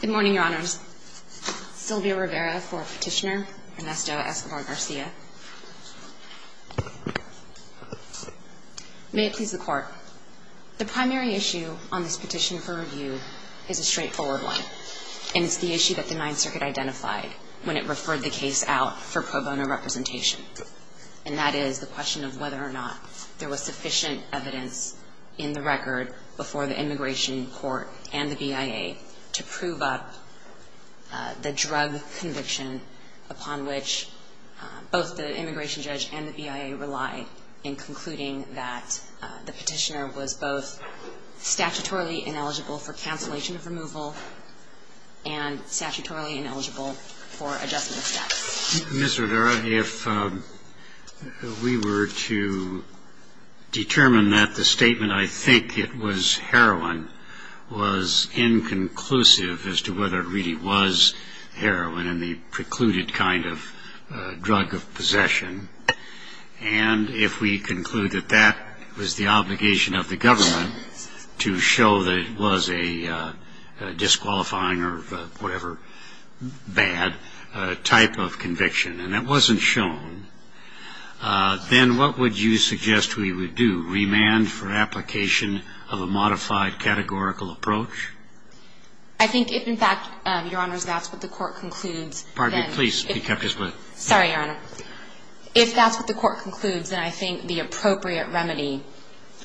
Good morning, Your Honors. Sylvia Rivera for Petitioner, Ernesto Esquivel-Garcia. May it please the Court. The primary issue on this petition for review is a straightforward one, and it's the issue that the Ninth Circuit identified when it referred the case out for pro bono representation, and that is the question of whether or not there was sufficient evidence in the record before the immigration court and the BIA to prove up the drug conviction upon which both the immigration judge and the BIA rely in concluding that the petitioner was both statutorily ineligible for cancellation of removal and statutorily ineligible for adjustment of status. Mr. Rivera, if we were to determine that the statement, I think it was heroin, was inconclusive as to whether it really was heroin and the precluded kind of drug of possession, and if we conclude that that was the obligation of the government to show that it was a disqualifying or whatever bad type of conviction, and it wasn't shown, then what would you suggest we would do, remand for application of a modified categorical approach? I think if, in fact, Your Honors, that's what the Court concludes, then the appropriate remedy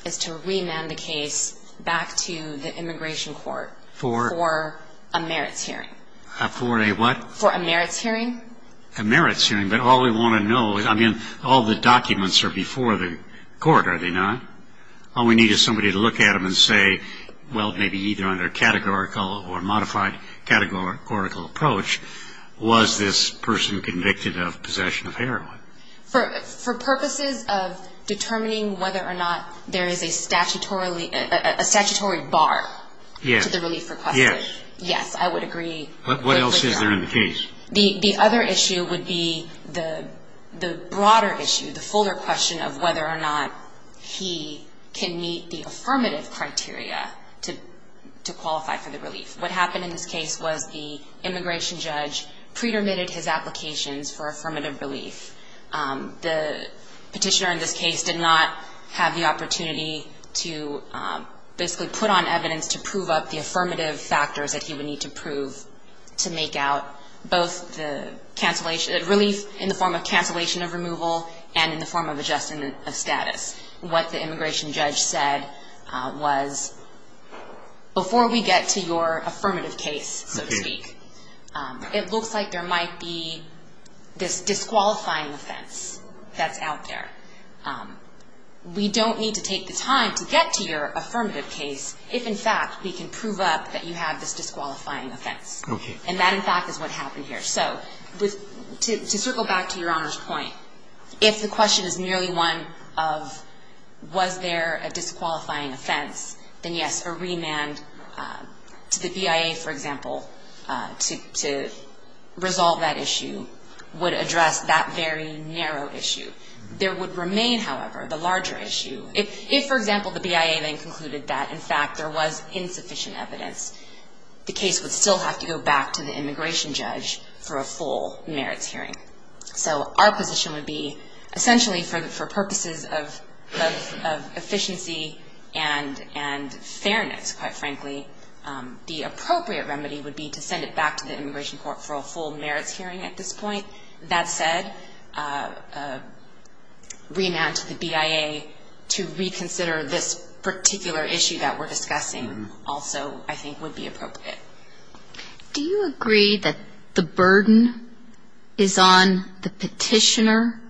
is to remand the case back to the immigration court for a mandatory remand. For a merits hearing. For a what? For a merits hearing. A merits hearing, but all we want to know, I mean, all the documents are before the court, are they not? All we need is somebody to look at them and say, well, maybe either under categorical or modified categorical approach, was this person convicted of possession of heroin? For purposes of determining whether or not there is a statutory bar to the relief request. Yes. Yes, I would agree. What else is there in the case? The other issue would be the broader issue, the fuller question of whether or not he can meet the affirmative criteria to qualify for the relief. What happened in this case was the immigration judge pre-dermitted his applications for affirmative relief. The petitioner in this case did not have the opportunity to basically put on evidence to prove up the affirmative factors that he would need to prove to make out both the relief in the form of cancellation of removal and in the form of adjustment of status. What the immigration judge said was, before we get to your affirmative case, so to speak, it looks like there might be this disqualifying offense that's out there. We don't need to take the time to get to your affirmative case if, in fact, we can prove up that you have this disqualifying offense. And that, in fact, is what happened here. So to circle back to Your Honor's point, if the question is merely one of was there a disqualifying offense, then yes, a remand to the BIA, for example, to resolve that issue would address that very narrow issue. There would remain, however, the larger issue. If, for example, the BIA then concluded that, in fact, there was insufficient evidence, the case would still have to go back to the immigration judge for a full merits hearing. So our position would be essentially for purposes of efficiency and fairness, quite frankly, the appropriate remedy would be to send it back to the immigration court for a full merits hearing at this point. That said, a remand to the BIA to reconsider this particular issue that we're discussing also, I think, would be appropriate. Do you agree that the burden is on the petitioner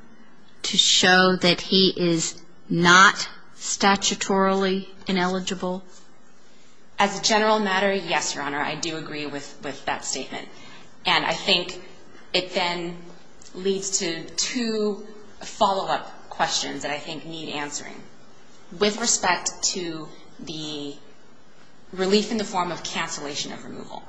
to show that he is not statutorily ineligible? As a general matter, yes, Your Honor, I do agree with that statement. And I think it then leads to two follow-up questions that I think need answering. With respect to the relief in the form of cancellation of removal,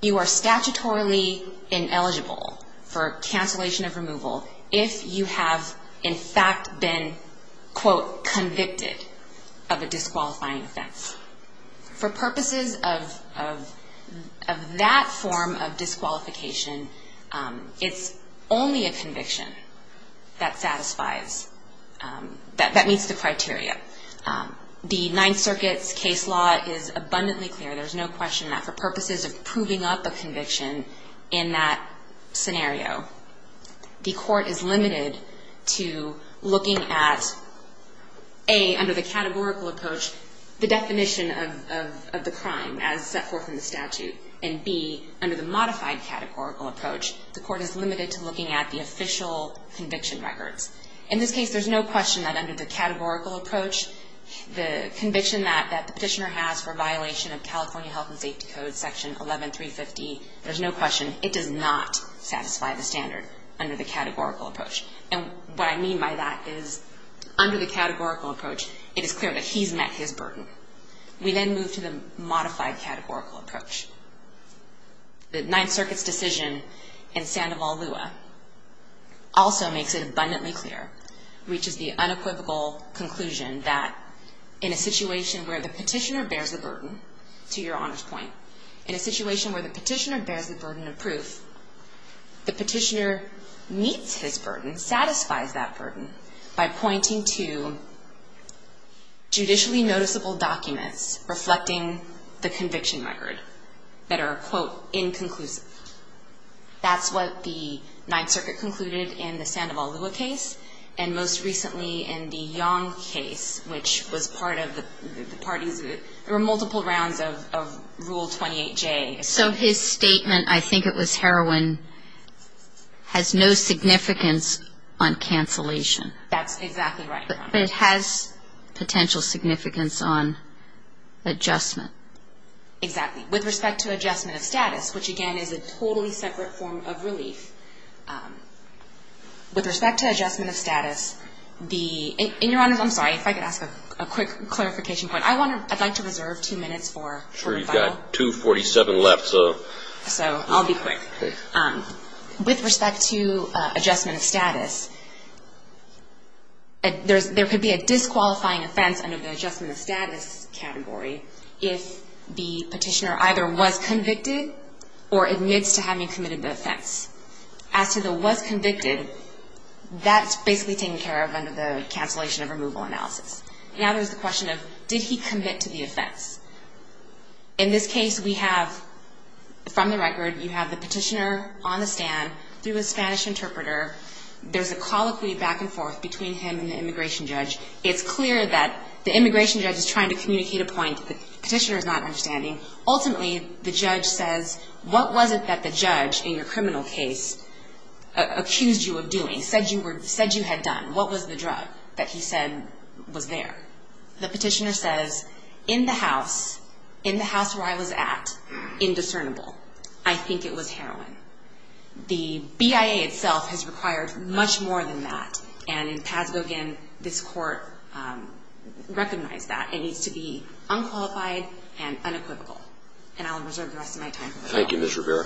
you are statutorily ineligible for cancellation of removal if you have, in fact, been, quote, convicted of a disqualifying offense. For purposes of that form of disqualification, it's only a conviction that satisfies, that meets the criteria. The Ninth Circuit's case law is abundantly clear. There's no question that for purposes of proving up a conviction in that scenario, the court is limited to looking at, A, under the categorical approach, the definition of the crime as set forth in the statute. And, B, under the modified categorical approach, the court is limited to looking at the official conviction records. In this case, there's no question that under the categorical approach, the conviction that the petitioner has for violation of California Health and Safety Code Section 11350, there's no question, it does not satisfy the standard under the categorical approach. And what I mean by that is under the categorical approach, it is clear that he's met his burden. We then move to the modified categorical approach. The Ninth Circuit's decision in Sandoval-Lewa also makes it abundantly clear, reaches the unequivocal conclusion that in a situation where the petitioner bears the burden, to your honor's point, in a situation where the petitioner bears the burden of proof, the petitioner meets his burden, satisfies that burden, by pointing to judicially noticeable documents reflecting the conviction record that are, quote, inconclusive. That's what the Ninth Circuit concluded in the Sandoval-Lewa case, and most recently in the Yang case, which was part of the parties, there were multiple rounds of Rule 28J. So his statement, I think it was heroin, has no significance on cancellation. That's exactly right. But it has potential significance on adjustment. Exactly. With respect to adjustment of status, which again is a totally separate form of relief, with respect to adjustment of status, the, in your honor's, I'm sorry, if I could ask a quick clarification point. I want to, I'd like to reserve two minutes for rebuttal. Sure, you've got 247 left, so. So I'll be quick. Okay. With respect to adjustment of status, there could be a disqualifying offense under the adjustment of status category if the petitioner either was convicted or admits to having committed the offense. As to the was convicted, that's basically taken care of under the cancellation of removal analysis. Now there's the question of did he commit to the offense. In this case, we have, from the record, you have the petitioner on the stand through a Spanish interpreter. There's a colloquy back and forth between him and the immigration judge. It's clear that the immigration judge is trying to communicate a point that the petitioner is not understanding. Ultimately, the judge says, what was it that the judge in your criminal case accused you of doing, said you were, said you had done? What was the drug that he said was there? The petitioner says, in the house, in the house where I was at, indiscernible. I think it was heroin. The BIA itself has required much more than that. And in Paz-Bogain, this court recognized that. It needs to be unqualified and unequivocal. And I'll reserve the rest of my time. Thank you, Ms. Rivera.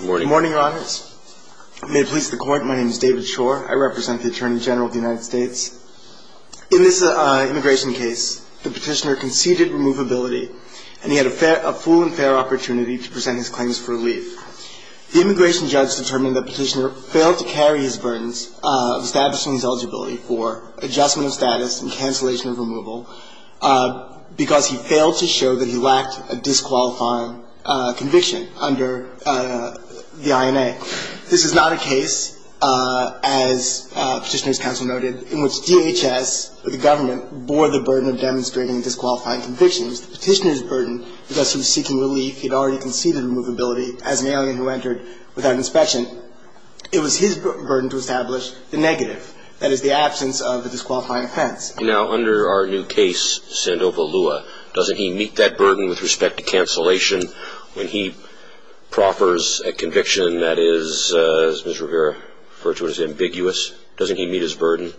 Good morning. Good morning, Your Honors. May it please the Court, my name is David Schor. I represent the Attorney General of the United States. In this immigration case, the petitioner conceded removability, and he had a fair, a full and fair opportunity to present his claims for relief. The immigration judge determined the petitioner failed to carry his burdens of establishing his eligibility for adjustment of status and cancellation of removal because he failed to show that he lacked a disqualifying conviction under the INA. This is not a case, as Petitioner's Counsel noted, in which DHS or the government bore the burden of demonstrating disqualifying convictions. The petitioner's burden, because he was seeking relief, he had already conceded removability as an alien who entered without inspection. It was his burden to establish the negative, that is, the absence of a disqualifying offense. Now, under our new case, Sandoval Lua, doesn't he meet that burden with respect to cancellation? When he proffers a conviction that is, as Ms. Rivera referred to, ambiguous, doesn't he meet his burden?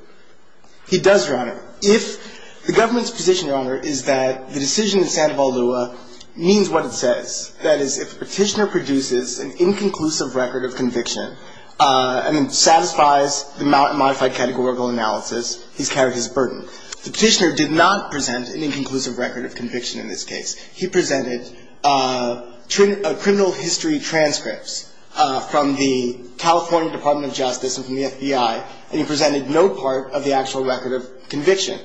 He does, Your Honor. If the government's position, Your Honor, is that the decision in Sandoval Lua means what it says, that is, if the petitioner produces an inconclusive record of conviction and then satisfies the modified categorical analysis, he's carried his burden. The petitioner did not present an inconclusive record of conviction in this case. He presented criminal history transcripts from the California Department of Justice and from the FBI, and he presented no part of the actual record of conviction.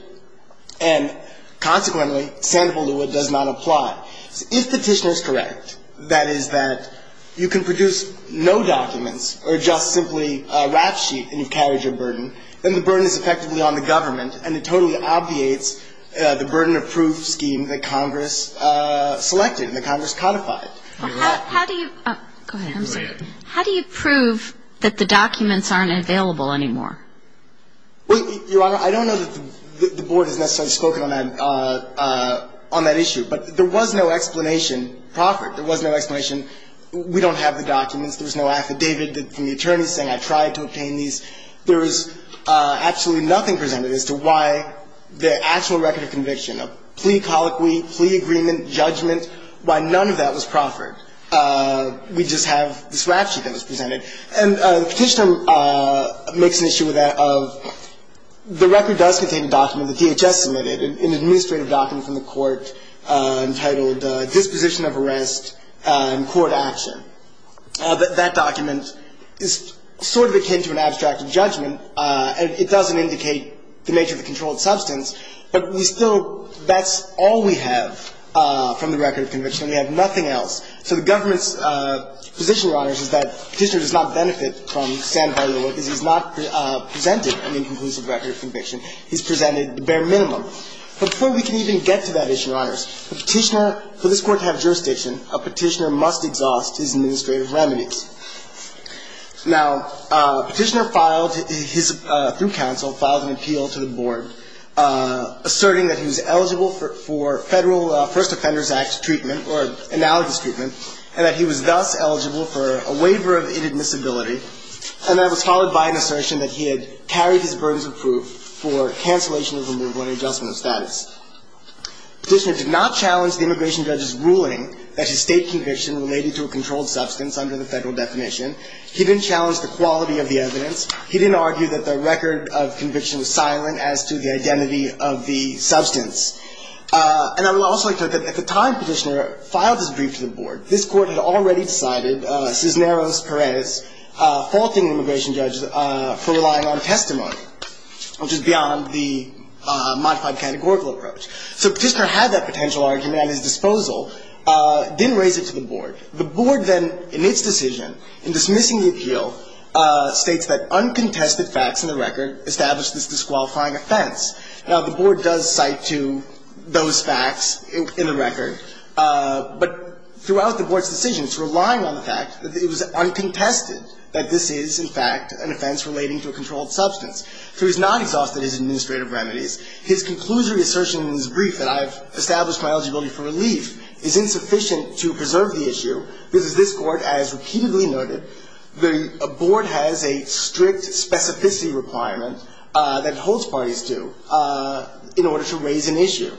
And consequently, Sandoval Lua does not apply. If the petitioner is correct, that is, that you can produce no documents or just simply a rap sheet and you've carried your burden, then the burden is effectively on the government, and it totally obviates the burden of proof scheme that Congress selected and that Congress codified. How do you prove that the documents aren't available anymore? Well, Your Honor, I don't know that the Board has necessarily spoken on that issue, but there was no explanation offered. There was no explanation. We don't have the documents. There was no affidavit from the attorneys saying I tried to obtain these. There was absolutely nothing presented as to why the actual record of conviction, a plea colloquy, plea agreement, judgment, why none of that was proffered. We just have this rap sheet that was presented. And the petitioner makes an issue with that of the record does contain a document that DHS submitted, an administrative document from the court entitled Disposition of Arrest in Court Action. That document is sort of akin to an abstract judgment. It doesn't indicate the nature of the controlled substance. But we still – that's all we have from the record of conviction. We have nothing else. So the government's position, Your Honors, is that the petitioner does not benefit from San Barilo because he's not presented an inconclusive record of conviction. He's presented the bare minimum. But before we can even get to that issue, Your Honors, the petitioner – for this Court to have jurisdiction, a petitioner must exhaust his administrative remedies. Now, a petitioner filed his – through counsel, filed an appeal to the Board, asserting that he was eligible for Federal First Offenders Act treatment or analogous treatment, and that he was thus eligible for a waiver of inadmissibility, and that was followed by an assertion that he had carried his burdens of proof for cancellation of removal and adjustment of status. The petitioner did not challenge the immigration judge's ruling that his state conviction related to a controlled substance under the Federal definition. He didn't challenge the quality of the evidence. He didn't argue that the record of conviction was silent as to the identity of the substance. And I would also like to note that at the time the petitioner filed his brief to the Board, this Court had already decided, Cisneros-Perez, faulting the immigration judge for relying on testimony, which is beyond the modified categorical approach. So the petitioner had that potential argument at his disposal, didn't raise it to the Board. The Board then, in its decision, in dismissing the appeal, states that uncontested facts in the record establish this disqualifying offense. Now, the Board does cite to those facts in the record, but throughout the Board's decision, it's relying on the fact that it was uncontested that this is, in fact, an offense relating to a controlled substance. So he's not exhausted his administrative remedies. His conclusory assertion in his brief that I've established my eligibility for relief is insufficient to preserve the issue because, as this Court has repeatedly noted, the Board has a strict specificity requirement that it holds parties to in order to raise an issue.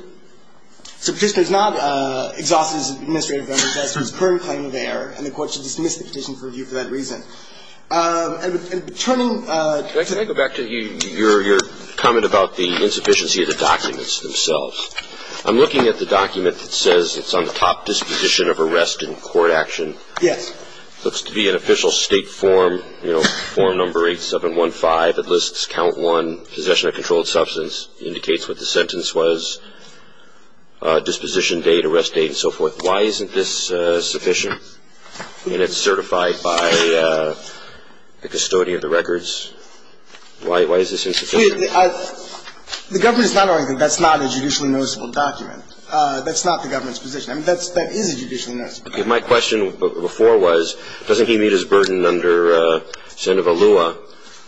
So the petitioner has not exhausted his administrative remedies as to his current claim of error, and the Court should dismiss the petition for review for that reason. And turning to you, can I go back to your comment about the insufficiency of the documents themselves? I'm looking at the document that says it's on the top disposition of arrest in court action. Yes. It looks to be an official State form, you know, form number 8715. It lists count one, possession of controlled substance. It indicates what the sentence was, disposition date, arrest date, and so forth. Why isn't this sufficient? I mean, it's certified by the custodian of the records. Why is this insufficient? The government is not arguing that that's not a judicially noticeable document. That's not the government's position. I mean, that is a judicially noticeable document. My question before was, doesn't he meet his burden under Sandoval Lua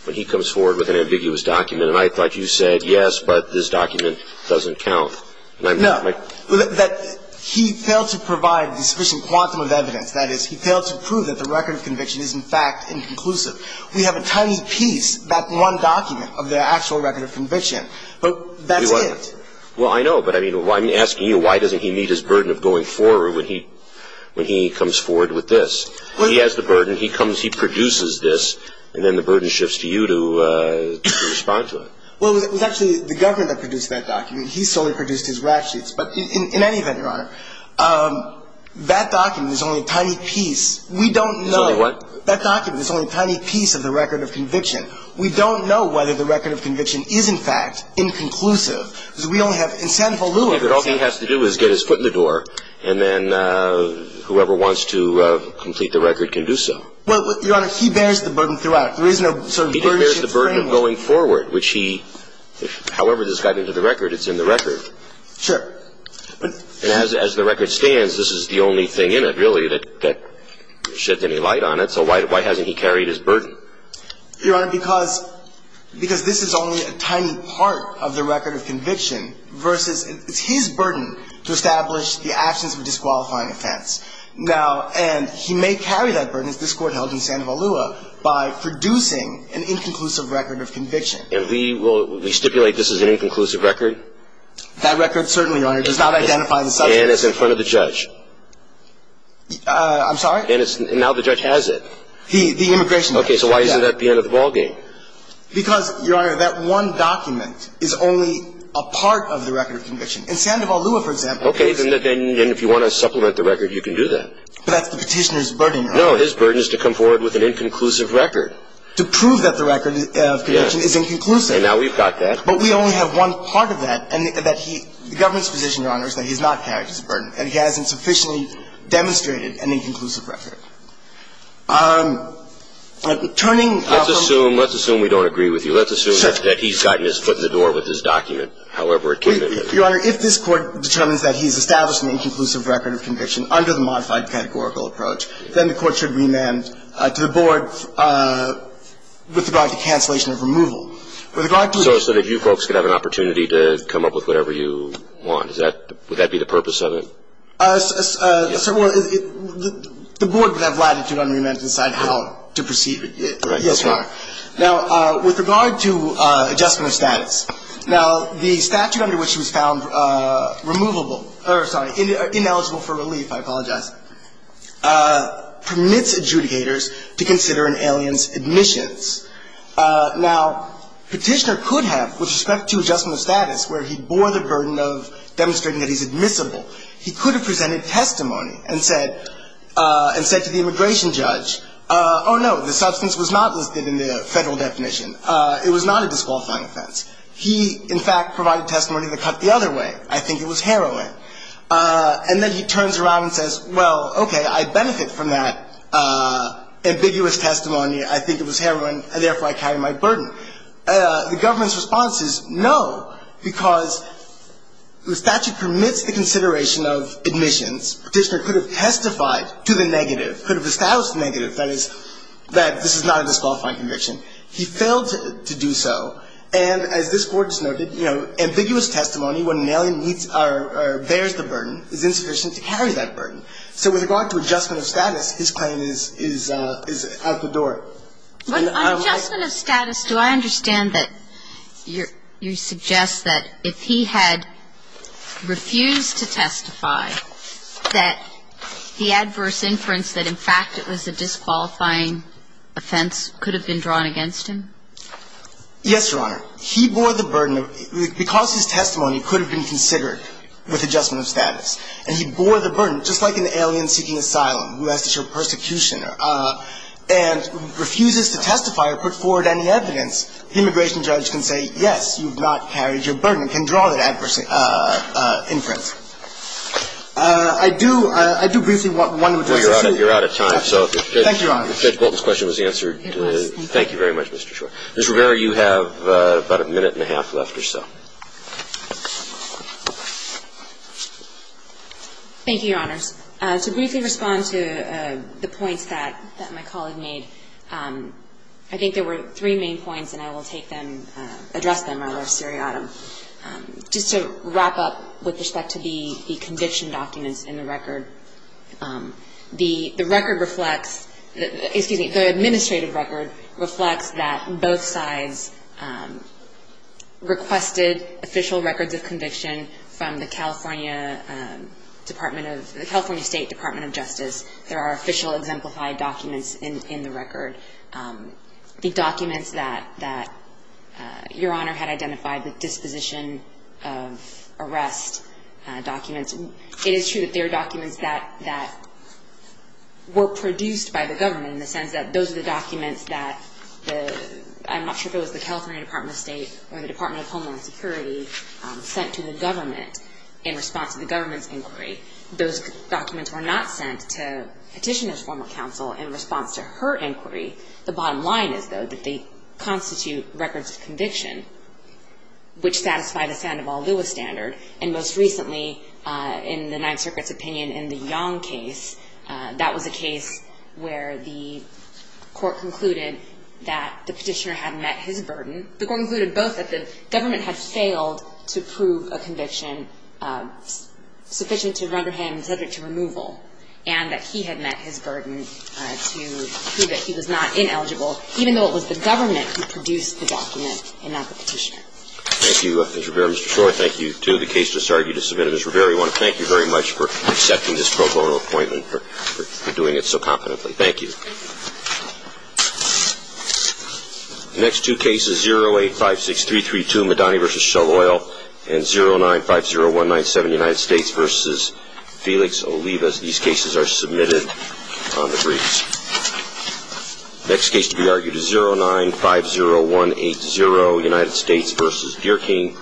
when he comes forward with an ambiguous document? And I thought you said, yes, but this document doesn't count. No. He failed to provide the sufficient quantum of evidence. That is, he failed to prove that the record of conviction is, in fact, inconclusive. We have a tiny piece, that one document, of the actual record of conviction. But that's it. Well, I know. But I mean, I'm asking you, why doesn't he meet his burden of going forward when he comes forward with this? He has the burden. He comes, he produces this, and then the burden shifts to you to respond to it. Well, it was actually the government that produced that document. He solely produced his rap sheets. But in any event, Your Honor, that document is only a tiny piece. We don't know. It's only what? That document is only a tiny piece of the record of conviction. We don't know whether the record of conviction is, in fact, inconclusive. Because we only have Sandoval Lua. All he has to do is get his foot in the door, and then whoever wants to complete the record can do so. Well, Your Honor, he bears the burden throughout. There is no sort of burden shift framework. But if you look at this record, which he – however this got into the record, it's in the record. Sure. As the record stands, this is the only thing in it, really, that sheds any light on it. So why hasn't he carried his burden? Your Honor, because this is only a tiny part of the record of conviction versus – it's his burden to establish the absence of a disqualifying offense. Now – and he may carry that burden, as this Court held in Sandoval Lua, by producing an inconclusive record of conviction. And we will – we stipulate this is an inconclusive record? That record, certainly, Your Honor, does not identify the subject. And it's in front of the judge. I'm sorry? And it's – now the judge has it. He – the immigration judge. Okay. So why isn't that the end of the ballgame? Because, Your Honor, that one document is only a part of the record of conviction. In Sandoval Lua, for example – Okay. Then if you want to supplement the record, you can do that. But that's the Petitioner's burden. No. His burden is to come forward with an inconclusive record. To prove that the record of conviction is inconclusive. And now we've got that. But we only have one part of that, and that he – the government's position, Your Honor, is that he's not carried his burden. And he hasn't sufficiently demonstrated an inconclusive record. Turning – Let's assume – let's assume we don't agree with you. Let's assume that he's gotten his foot in the door with this document, however it came in. Your Honor, if this Court determines that he's established an inconclusive record of conviction under the modified categorical approach, then the Court should remand to the Board with regard to cancellation of removal. With regard to – So that you folks could have an opportunity to come up with whatever you want. Is that – would that be the purpose of it? Well, the Board would have latitude on remand to decide how to proceed. Now, with regard to adjustment of status. Now, the statute under which he was found removable – or, sorry, ineligible for relief, I apologize, permits adjudicators to consider an alien's admissions. Now, Petitioner could have, with respect to adjustment of status, where he bore the burden of demonstrating that he's admissible, he could have presented testimony and said – and said to the immigration judge, oh, no, the substance was not listed in the Federal definition. It was not a disqualifying offense. He, in fact, provided testimony that cut the other way. I think it was heroin. And then he turns around and says, well, okay, I benefit from that ambiguous testimony. I think it was heroin, and therefore I carry my burden. The government's response is no, because the statute permits the consideration of admissions. Petitioner could have testified to the negative, could have established the negative, that is, that this is not a disqualifying conviction. He failed to do so, and as this Court has noted, you know, ambiguous testimony, when an alien meets or bears the burden, is insufficient to carry that burden. So with regard to adjustment of status, his claim is – is out the door. But on adjustment of status, do I understand that you're – you suggest that if he had refused to testify, that the adverse inference that, in fact, it was a disqualifying offense could have been drawn against him? Yes, Your Honor. He bore the burden of – because his testimony could have been considered with adjustment of status, and he bore the burden, just like an alien seeking asylum who has to show persecution and refuses to testify or put forward any evidence, the immigration judge can say, yes, you have not carried your burden, can draw that adverse inference. I do – I do briefly want one more question. Well, you're out of time. Thank you, Your Honor. Judge Bolton's question was answered. Thank you very much, Mr. Shor. Ms. Rivera, you have about a minute and a half left or so. Thank you, Your Honors. To briefly respond to the points that my colleague made, I think there were three main points, and I will take them – address them rather seriatim. Just to wrap up with respect to the conviction documents in the record, the record reflects – excuse me, the administrative record reflects that both sides requested official records of conviction from the California Department of – the California State Department of Justice. There are official exemplified documents in the record. The documents that Your Honor had identified, the disposition of arrest documents, it is true that they are documents that were produced by the government in the sense that those are the documents that the – I'm not sure if it was the California Department of State or the Department of Homeland Security sent to the government in response to the government's inquiry. Those documents were not sent to Petitioner's former counsel in response to her inquiry. The bottom line is, though, that they constitute records of conviction, which satisfy the Sandoval-Lewis standard. And most recently, in the Ninth Circuit's opinion in the Yong case, that was a case where the court concluded that the Petitioner had met his burden. The court concluded both that the government had failed to prove a conviction sufficient to render him subject to removal and that he had met his burden to prove that he was not ineligible, even though it was the government who produced the document and not the Petitioner. Thank you, Ms. Rivera. Mr. Shore, thank you, too. The case just argued to submit. Ms. Rivera, we want to thank you very much for accepting this pro bono appointment for doing it so confidently. Thank you. Thank you. The next two cases, 0856332, Madani v. Shalwell, and 0950197, United States v. Felix Olivas. These cases are submitted on the briefs. The next case to be argued is 0950180, United States v. Deerking.